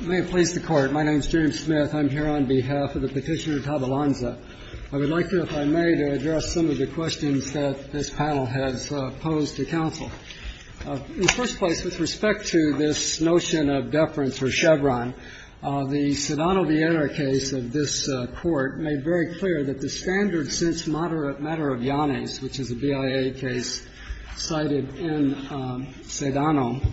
May it please the Court, my name is James Smith. I'm here on behalf of the petitioner Tabalanza. I would like to, if I may, to address some of the questions that this panel has posed to counsel. In the first place, with respect to this notion of deference for Chevron, the Sedano-Vieira case of this Court made very clear that the standard since moderate matter of Yanis, which is a BIA case cited in Sedano,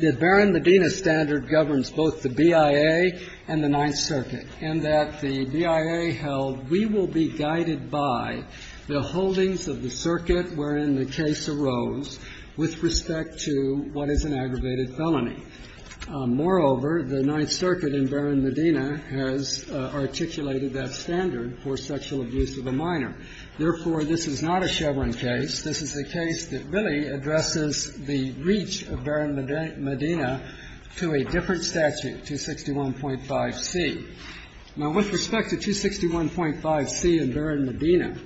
that Baron Medina standard governs both the BIA and the Ninth Circuit, and that the BIA held we will be guided by the holdings of the circuit wherein the case arose with respect to what is an aggravated felony. Moreover, the Ninth Circuit in Baron Medina has articulated that standard for sexual abuse of a minor. Therefore, this is not a Chevron case. This is a case that really addresses the reach of Baron Medina to a different statute, 261.5c. Now, with respect to 261.5c in Baron Medina,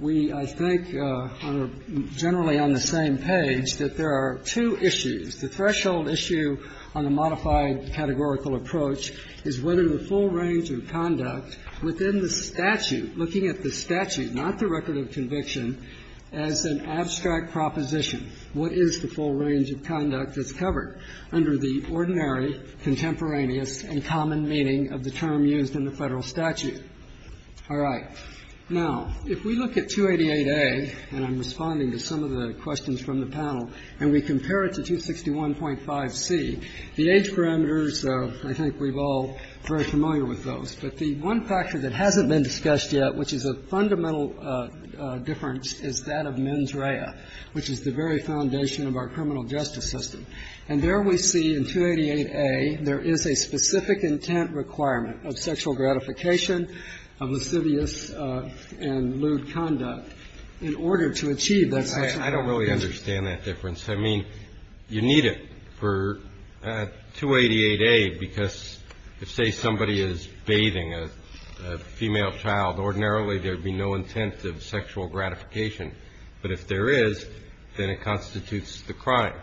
we, I think, are generally on the same page that there are two issues. The threshold issue on the modified categorical approach is whether the full range of conduct within the statute, looking at the statute, not the record of conviction, as an abstract proposition. What is the full range of conduct that's covered under the ordinary, contemporaneous, and common meaning of the term used in the Federal statute? All right. Now, if we look at 288A, and I'm responding to some of the questions from the panel, and we compare it to 261.5c, the age parameters, I think we're all very familiar with those, but the one factor that hasn't been discussed yet, which is a fundamental difference, is that of mens rea, which is the very foundation of our criminal justice system. And there we see in 288A there is a specific intent requirement of sexual gratification, of lascivious and lewd conduct in order to achieve that sexual gratification. I don't really understand that difference. I mean, you need it for 288A, because if, say, somebody is bathing a female child, ordinarily there would be no intent of sexual gratification. But if there is, then it constitutes the crime.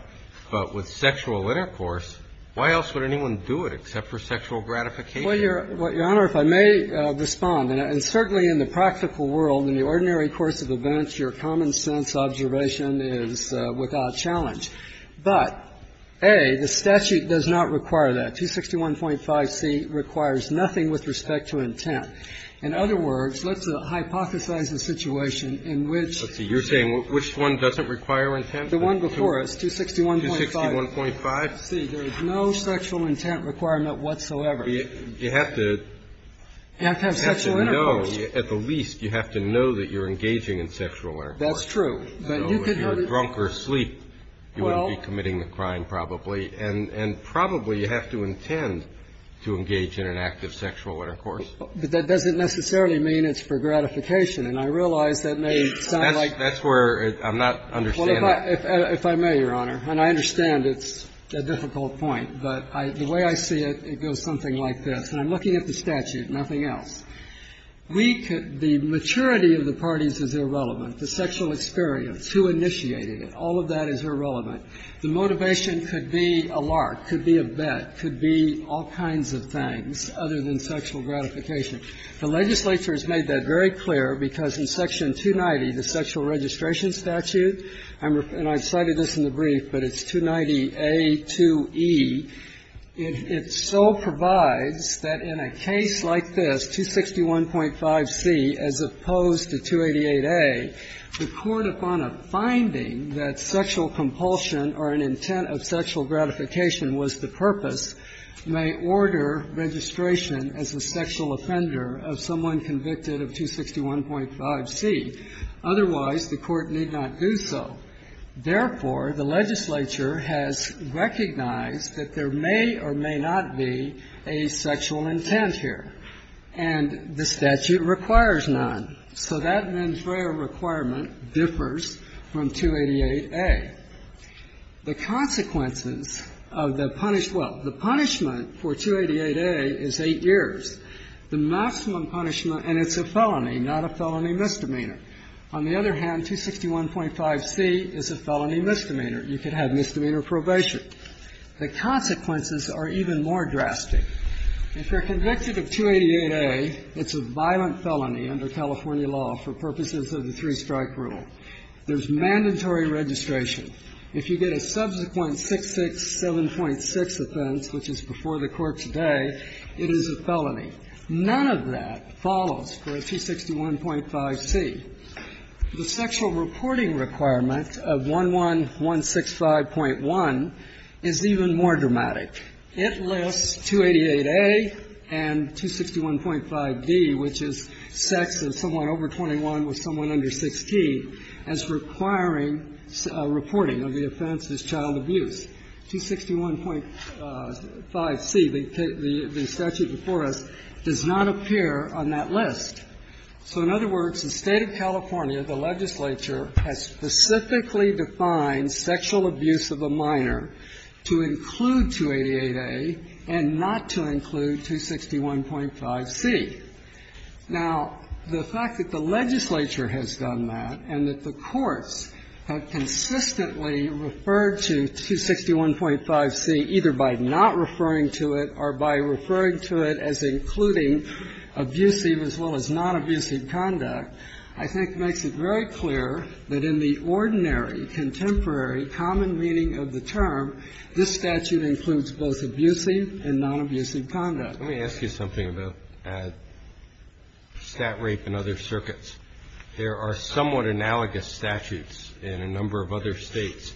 But with sexual intercourse, why else would anyone do it except for sexual gratification? Well, Your Honor, if I may respond. And certainly in the practical world, in the ordinary course of events, your common sense observation is without challenge. But, A, the statute does not require that. 261.5c requires nothing with respect to intent. In other words, let's hypothesize a situation in which the statute requires nothing with respect to intent. The one before us, 261.5c, there is no sexual intent requirement whatsoever. You have to know, at the least, you have to know that you're engaging in sexual intercourse. That's true. So if you're drunk or asleep, you wouldn't be committing the crime, probably. And probably you have to intend to engage in an act of sexual intercourse. But that doesn't necessarily mean it's for gratification. And I realize that may sound like ---- That's where I'm not understanding. Well, if I may, Your Honor, and I understand it's a difficult point, but the way I see it, it goes something like this. And I'm looking at the statute, nothing else. We could be ---- maturity of the parties is irrelevant. The sexual experience, who initiated it, all of that is irrelevant. The motivation could be a lark, could be a bet, could be all kinds of things other than sexual gratification. The legislature has made that very clear, because in Section 290, the sexual registration statute, and I cited this in the brief, but it's 290a2e, it so provides that in a case like this, 261.5c, as opposed to 288a, the court, upon a finding that sexual compulsion or an intent of sexual gratification was the purpose, may order registration as a sexual offender of someone convicted of 261.5c. Otherwise, the court need not do so. Therefore, the legislature has recognized that there may or may not be a sexual intent here. And the statute requires none. So that mens rea requirement differs from 288a. The consequences of the punish ---- well, the punishment for 288a is 8 years. The maximum punishment, and it's a felony, not a felony misdemeanor. On the other hand, 261.5c is a felony misdemeanor. You could have misdemeanor probation. The consequences are even more drastic. If you're convicted of 288a, it's a violent felony under California law for purposes of the three-strike rule. There's mandatory registration. If you get a subsequent 667.6 offense, which is before the court today, it is a felony. None of that follows for 261.5c. The sexual reporting requirement of 11165.1 is even more dramatic. It lists 288a and 261.5d, which is sex of someone over 21 with someone under 16, as requiring reporting of the offense as child abuse. 261.5c, the statute before us, does not appear on that list. So, in other words, the State of California, the legislature, has specifically defined sexual abuse of a minor to include 288a and not to include 261.5c. Now, the fact that the legislature has done that and that the courts have consistently referred to 261.5c either by not referring to it or by referring to it as including abusive as well as non-abusive conduct, I think makes it very clear that in the ordinary, contemporary, common meaning of the term, this statute includes both abusive and non-abusive conduct. Let me ask you something about stat rape and other circuits. There are somewhat analogous statutes in a number of other states.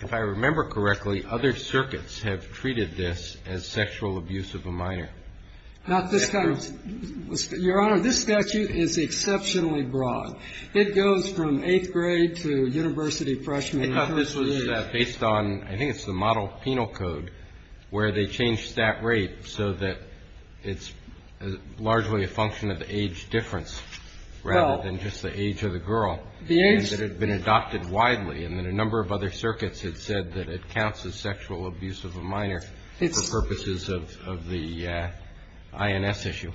If I remember correctly, other circuits have treated this as sexual abuse of a minor. Not this kind of. Your Honor, this statute is exceptionally broad. It goes from eighth grade to university freshman. I thought this was based on, I think it's the model penal code, where they changed that rate so that it's largely a function of the age difference rather than just the age of the girl. The age. And that it had been adopted widely. And in a number of other circuits, it said that it counts as sexual abuse of a minor for purposes of the INS issue.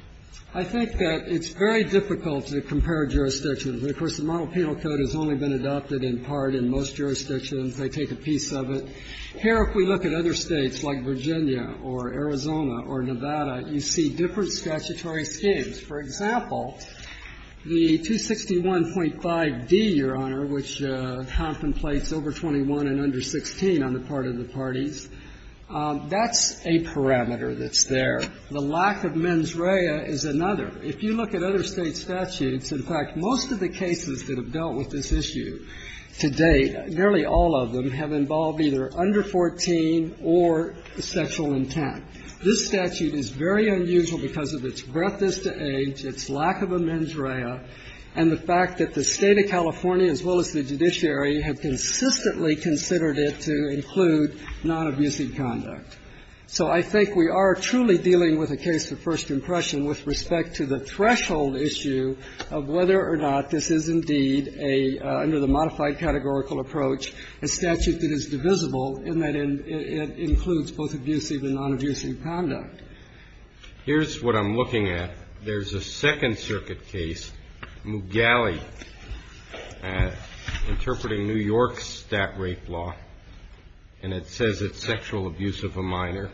I think that it's very difficult to compare jurisdictions. Of course, the model penal code has only been adopted in part in most jurisdictions. They take a piece of it. Here, if we look at other states like Virginia or Arizona or Nevada, you see different statutory schemes. For example, the 261.5d, Your Honor, which contemplates over 21 and under 16 on the part of the parties, that's a parameter that's there. The lack of mens rea is another. If you look at other state statutes, in fact, most of the cases that have dealt with this issue to date, nearly all of them, have involved either under 14 or sexual intent. This statute is very unusual because of its breadth as to age, its lack of a mens rea, and the fact that the State of California, as well as the judiciary, have consistently considered it to include non-abusing conduct. So I think we are truly dealing with a case of first impression with respect to the under the modified categorical approach, a statute that is divisible in that it includes both abusive and non-abusing conduct. Here's what I'm looking at. There's a Second Circuit case, Mugalle, interpreting New York's stat rape law, and it says it's sexual abuse of a minor.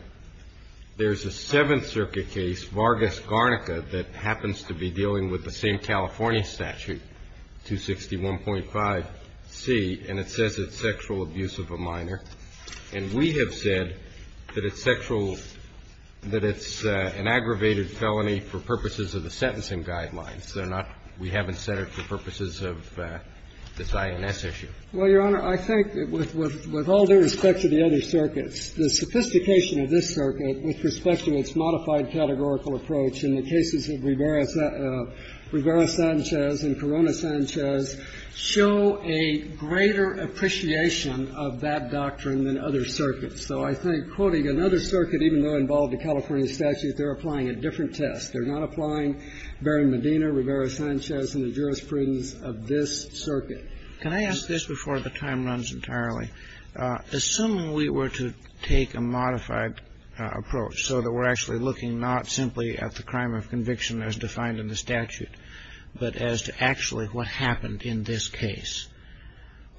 There's a Seventh Circuit case, Vargas-Garnica, that happens to be dealing with the State of California statute, 261.5c, and it says it's sexual abuse of a minor. And we have said that it's sexual – that it's an aggravated felony for purposes of the sentencing guidelines. They're not – we haven't set it for purposes of this INS issue. Well, Your Honor, I think with all due respect to the other circuits, the sophistication of this circuit with respect to its modified categorical approach in the cases of reverse Sanchez and Corona Sanchez show a greater appreciation of that doctrine than other circuits. So I think quoting another circuit, even though involved in California statutes, they're applying a different test. They're not applying Berrin-Medina, Rivera-Sanchez, and the jurisprudence of this circuit. Can I ask this before the time runs entirely? Assuming we were to take a modified approach so that we're actually looking not simply at the crime of conviction as defined in the statute, but as to actually what happened in this case.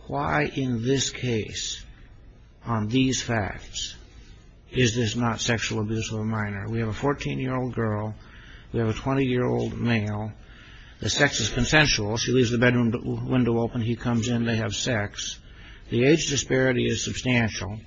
Why in this case on these facts is this not sexual abuse of a minor? We have a 14-year-old girl. We have a 20-year-old male. The sex is consensual. She leaves the bedroom window open. He comes in. They have sex. The age disparity is substantial.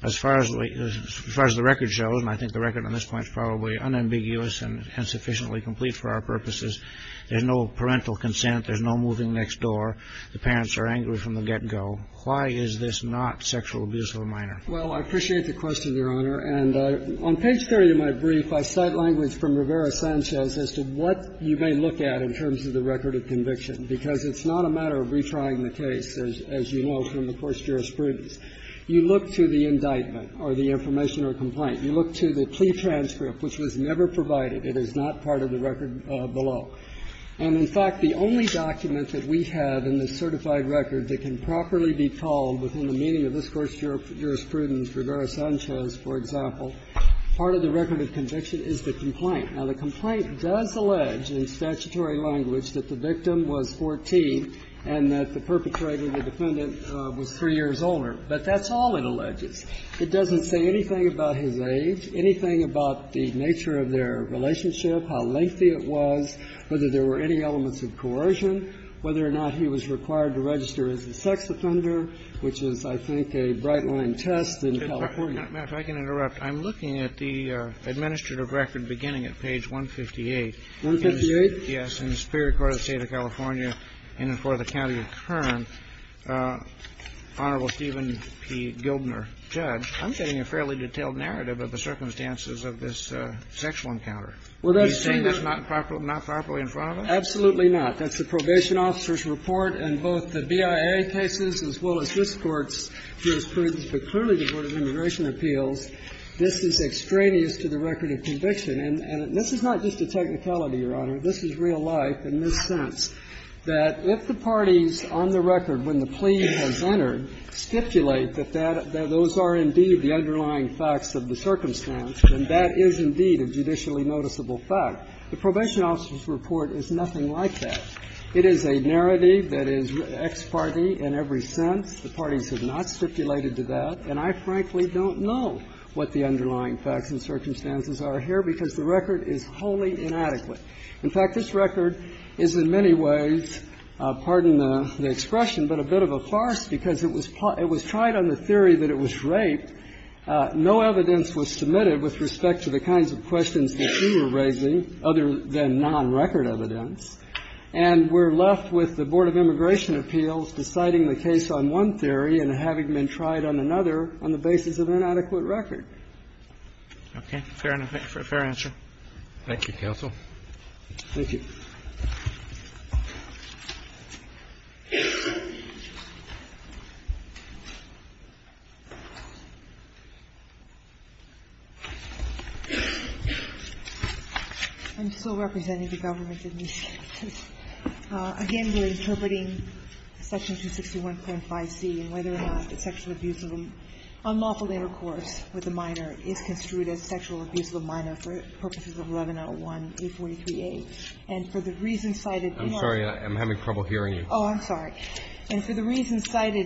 As far as the record shows, and I think the record on this point is probably unambiguous and sufficiently complete for our purposes, there's no parental consent. There's no moving next door. The parents are angry from the get-go. Why is this not sexual abuse of a minor? Well, I appreciate the question, Your Honor. And on page 30 of my brief, I cite language from Rivera-Sanchez as to what you may look at in terms of the record of conviction, because it's not a matter of retrying the case, as you know from the court's jurisprudence. You look to the indictment or the information or complaint. You look to the plea transcript, which was never provided. It is not part of the record below. And, in fact, the only document that we have in the certified record that can properly be called within the meaning of this Court's jurisprudence, Rivera-Sanchez, for example, part of the record of conviction is the complaint. Now, the complaint does allege in statutory language that the victim was 14 and that the perpetrator, the defendant, was 3 years older, but that's all it alleges. It doesn't say anything about his age, anything about the nature of their relationship, how lengthy it was, whether there were any elements of coercion, whether or not he was required to register as a sex offender, which is, I think, a bright-line test in California. If I can interrupt, I'm looking at the administrative record beginning at page 158. 158? Yes, in the Superior Court of the State of California, in and for the county of Kern. Honorable Stephen P. Gildner, Judge, I'm getting a fairly detailed narrative of the circumstances of this sexual encounter. Are you saying that's not properly in front of us? Absolutely not. That's the probation officer's report, and both the BIA cases as well as this Court's jurisprudence, but clearly the Board of Immigration Appeals, this is extraneous And this is not just a technicality, Your Honor. This is real life in this sense, that if the parties on the record, when the plea has entered, stipulate that those are indeed the underlying facts of the circumstance, then that is indeed a judicially noticeable fact. The probation officer's report is nothing like that. It is a narrative that is ex parte in every sense. The parties have not stipulated to that, and I frankly don't know what the underlying facts and circumstances are here, because the record is wholly inadequate. In fact, this record is in many ways, pardon the expression, but a bit of a farce because it was tried on the theory that it was raped. No evidence was submitted with respect to the kinds of questions that you were raising other than non-record evidence, and we're left with the Board of Immigration Appeals deciding the case on one theory and having been tried on another on the basis of inadequate record. Okay. Fair answer. Thank you, counsel. Thank you. I'm still representing the government in this case. Again, we're interpreting Section 261.5c and whether or not the sexual abuse of a unlawful intercourse with a minor is construed as sexual abuse of a minor for purposes of 1101A43A, and for the reasons cited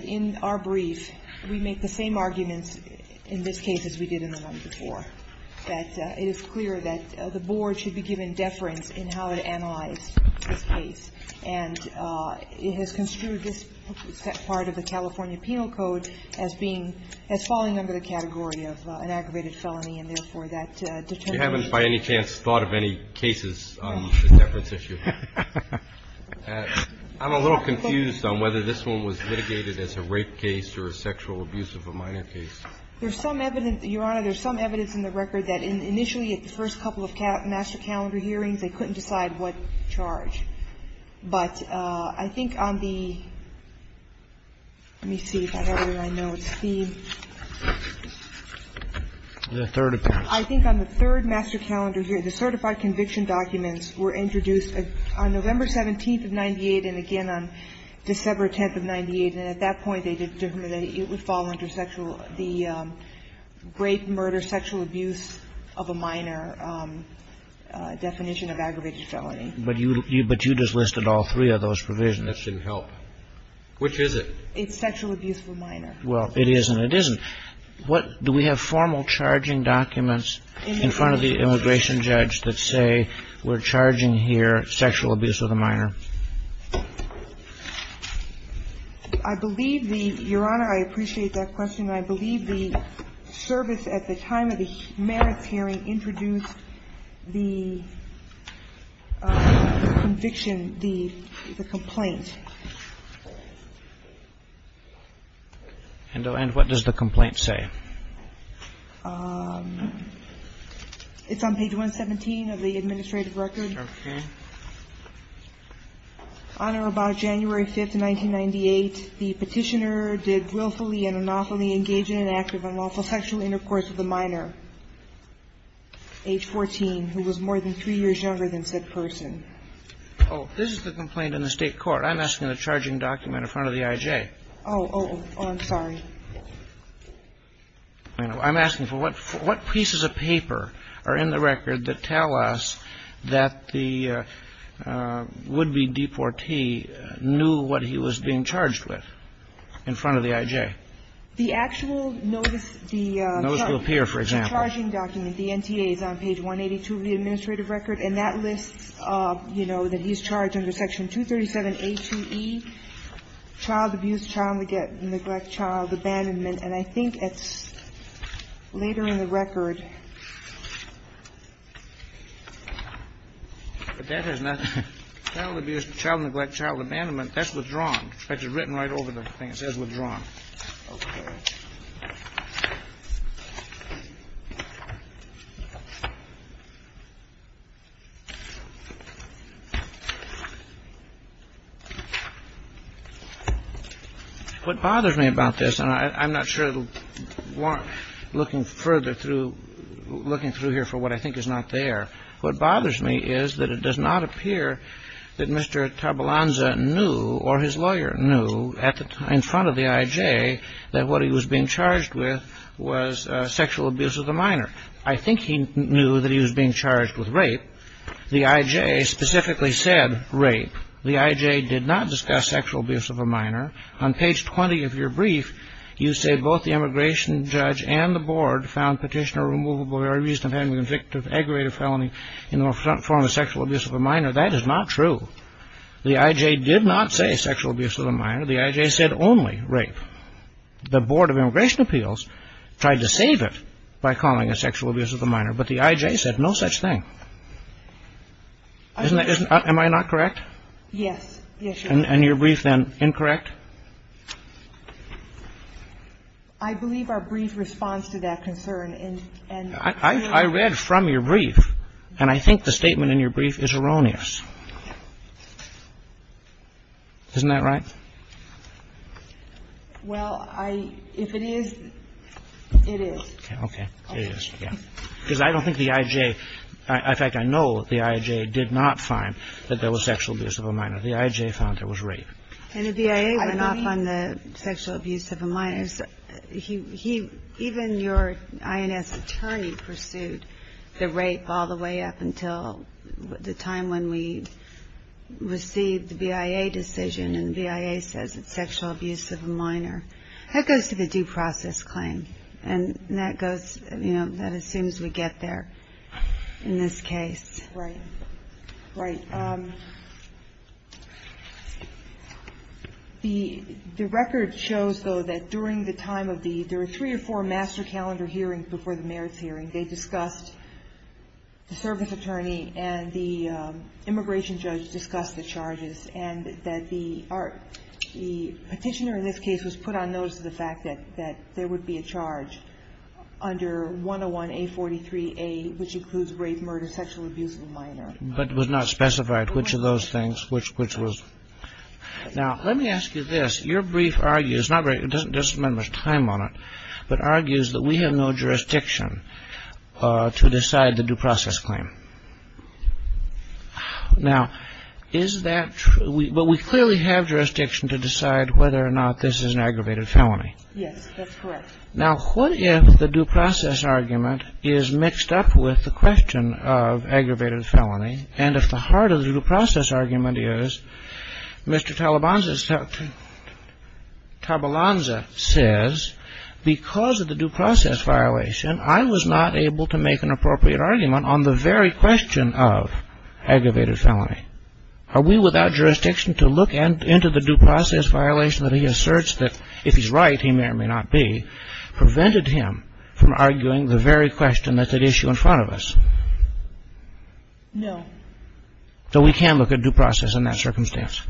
in our brief, we make the same arguments in this case as we did in the one before, that it is clear that the Board should be given deference in how to analyze this case, and it has construed this part of the California Penal Code as being as falling under the category of an aggravated I'm a little confused on whether this one was litigated as a rape case or a sexual abuse of a minor case. There's some evidence, Your Honor, there's some evidence in the record that initially at the first couple of master calendar hearings, they couldn't decide what charge. But I think on the, let me see if I have it here, I know it's feed. The third appearance. I think on the third master calendar hearing, the certified conviction documents were introduced on November 17th of 98 and again on December 10th of 98, and at that point, they determined that it would fall under sexual, the rape, murder, sexual abuse of a minor definition of aggravated felony. But you just listed all three of those provisions. That shouldn't help. Which is it? It's sexual abuse of a minor. Well, it is and it isn't. What, do we have formal charging documents in front of the immigration judge that say we're charging here sexual abuse of a minor? I believe the, Your Honor, I appreciate that question. I believe the service at the time of the merits hearing introduced the conviction, the complaint. And what does the complaint say? It's on page 117 of the administrative record. Okay. On or about January 5th of 1998, the Petitioner did willfully and unlawfully engage in an act of unlawful sexual intercourse with a minor, age 14, who was more than three years younger than said person. Oh, this is the complaint in the State court. I'm asking the charging document in front of the I.J. Oh, oh, I'm sorry. I'm asking for what pieces of paper are in the record that tell us that the would-be deportee knew what he was being charged with in front of the I.J.? The actual notice, the charging document, the NTA, is on page 182 of the administrative record, and that lists, you know, that he's charged under Section 237A2E, child abuse, child neglect, child abandonment. And I think it's later in the record. But that is not child abuse, child neglect, child abandonment. That's withdrawn. That's written right over the thing. It says withdrawn. Okay. What bothers me about this, and I'm not sure it'll warrant looking further through looking through here for what I think is not there. What bothers me is that it does not appear that Mr. Tabalanza knew or his lawyer knew in front of the I.J. that what he was being charged with was sexual abuse of a minor. I think he knew that he was being charged with rape. The I.J. specifically said rape. The I.J. did not discuss sexual abuse of a minor. On page 20 of your brief, you say both the immigration judge and the board found petitioner removable or reason of having been convicted of aggravated felony in the form of sexual abuse of a minor. That is not true. The I.J. did not say sexual abuse of a minor. The I.J. said only rape. The Board of Immigration Appeals tried to save it by calling it sexual abuse of a minor, but the I.J. said no such thing. Am I not correct? Yes. And your brief, then, incorrect? I believe our brief responds to that concern. I read from your brief, and I think the statement in your brief is erroneous. Isn't that right? Well, if it is, it is. Okay. It is, yeah. Because I don't think the I.J. In fact, I know the I.J. did not find that there was sexual abuse of a minor. The I.J. found there was rape. And the BIA would not find the sexual abuse of a minor. Even your I.N.S. attorney pursued the rape all the way up until the time when we received the BIA decision, and the BIA says it's sexual abuse of a minor. That goes to the due process claim, and that assumes we get there in this case. Right. Right. The record shows, though, that during the time of the three or four master calendar hearings before the merits hearing, they discussed the service attorney and the immigration judge discussed the charges, and that the petitioner in this case was put on notice of the fact that there would be a charge under 101A43A, which includes rape, murder, sexual abuse of a minor. But it was not specified which of those things, which was. Now, let me ask you this. Your brief argues, it doesn't spend much time on it, but argues that we have no jurisdiction to decide the due process claim. Now, is that true? But we clearly have jurisdiction to decide whether or not this is an aggravated felony. Yes, that's correct. Now, what if the due process argument is mixed up with the question of aggravated felony, and if the heart of the due process argument is Mr. Tabalanza says, because of the due process violation, I was not able to make an appropriate argument on the very question of aggravated felony. Are we without jurisdiction to look into the due process violation that he asserts that if he's right, he may or may not be, prevented him from arguing the very question that's at issue in front of us? No. So we can look at due process in that circumstance?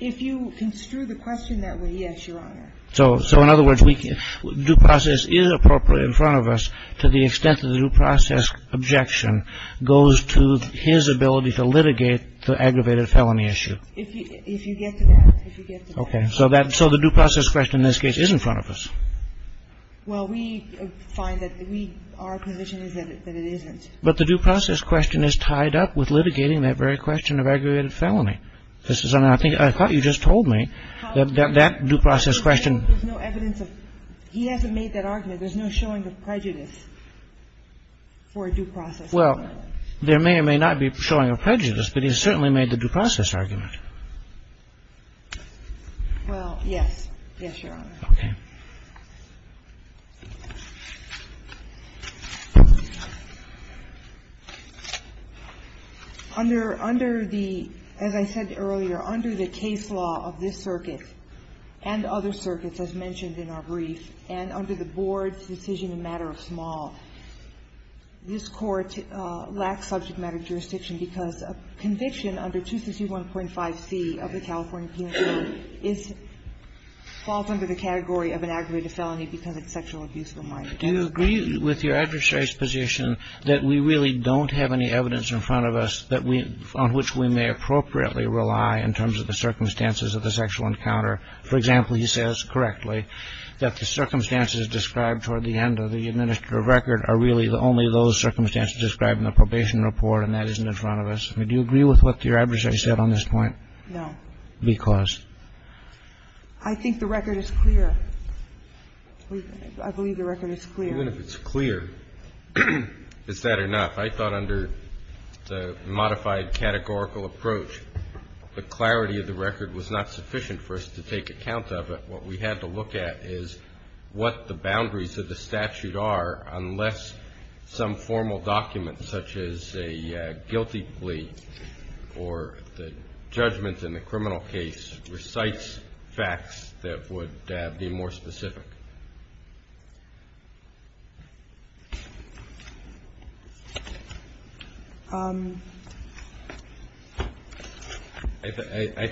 If you construe the question that way, yes, Your Honor. So in other words, due process is appropriate in front of us to the extent that the due process objection goes to his ability to litigate the aggravated felony issue? If you get to that, if you get to that. Okay. So the due process question in this case is in front of us? Well, we find that our position is that it isn't. But the due process question is tied up with litigating that very question of aggravated felony. I thought you just told me that that due process question. There's no evidence of he hasn't made that argument. There's no showing of prejudice for a due process. Well, there may or may not be showing of prejudice, but he certainly made the due process argument. Well, yes. Yes, Your Honor. Okay. Under the, as I said earlier, under the case law of this circuit and other circuits, as mentioned in our brief, and under the board's decision in matter of small, this court lacks subject matter jurisdiction because a conviction under 231.5c of the California Penal Code falls under the category of an aggravated felony because it's sexual abuse of a minor. Do you agree with your adversary's position that we really don't have any evidence in front of us that we, on which we may appropriately rely in terms of the circumstances of the sexual encounter? For example, he says correctly that the circumstances described toward the end of the record are really only those circumstances described in the probation report, and that isn't in front of us. Do you agree with what your adversary said on this point? No. Because? I think the record is clear. I believe the record is clear. Even if it's clear, is that enough? I thought under the modified categorical approach, the clarity of the record was not sufficient for us to take account of it. What we had to look at is what the boundaries of the statute are unless some formal document such as a guilty plea or the judgment in the criminal case recites facts that would be more specific. I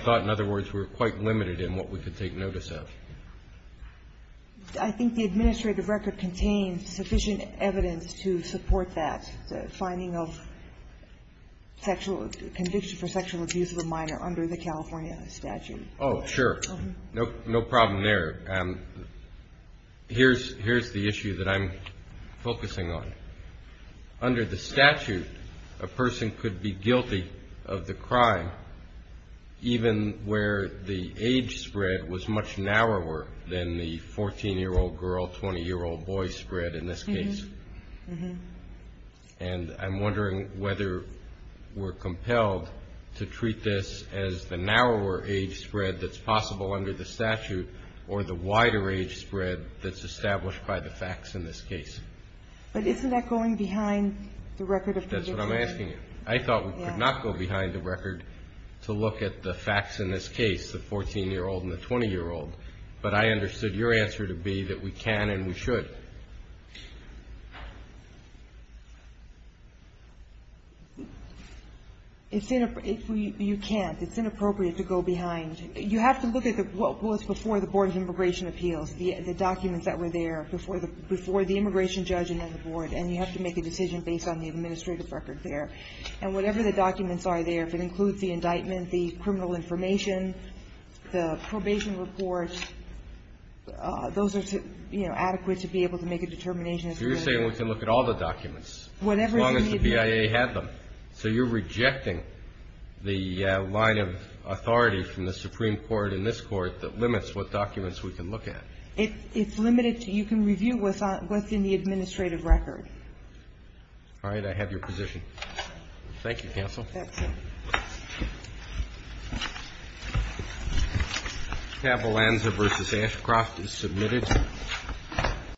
thought, in other words, we were quite limited in what we could take notice of. I think the administrative record contains sufficient evidence to support that, the finding of sexual conviction for sexual abuse of a minor under the California statute. Oh, sure. No problem there. Here's the issue that I'm focusing on. Under the statute, a person could be guilty of the crime even where the age spread was much narrower than the 14-year-old girl, 20-year-old boy spread in this case. And I'm wondering whether we're compelled to treat this as the narrower age spread that's possible under the statute or the wider age spread that's established by the facts in this case. But isn't that going behind the record of the agency? That's what I'm asking you. I thought we could not go behind the record to look at the facts in this case, the 14-year-old and the 20-year-old. But I understood your answer to be that we can and we should. You can't. It's inappropriate to go behind. You have to look at what was before the Board of Immigration Appeals, the documents that were there before the immigration judge and then the Board, and you have to make a decision based on the administrative record there. And whatever the documents are there, if it includes the indictment, the criminal information, the probation report, those are adequate to be able to make a determination. So you're saying we can look at all the documents as long as the BIA had them. So you're rejecting the line of authority from the Supreme Court and this Court that limits what documents we can look at. It's limited to you can review what's in the administrative record. All right. I have your position. Thank you, counsel. Thank you. Tabalanza v. Ashcroft is submitted.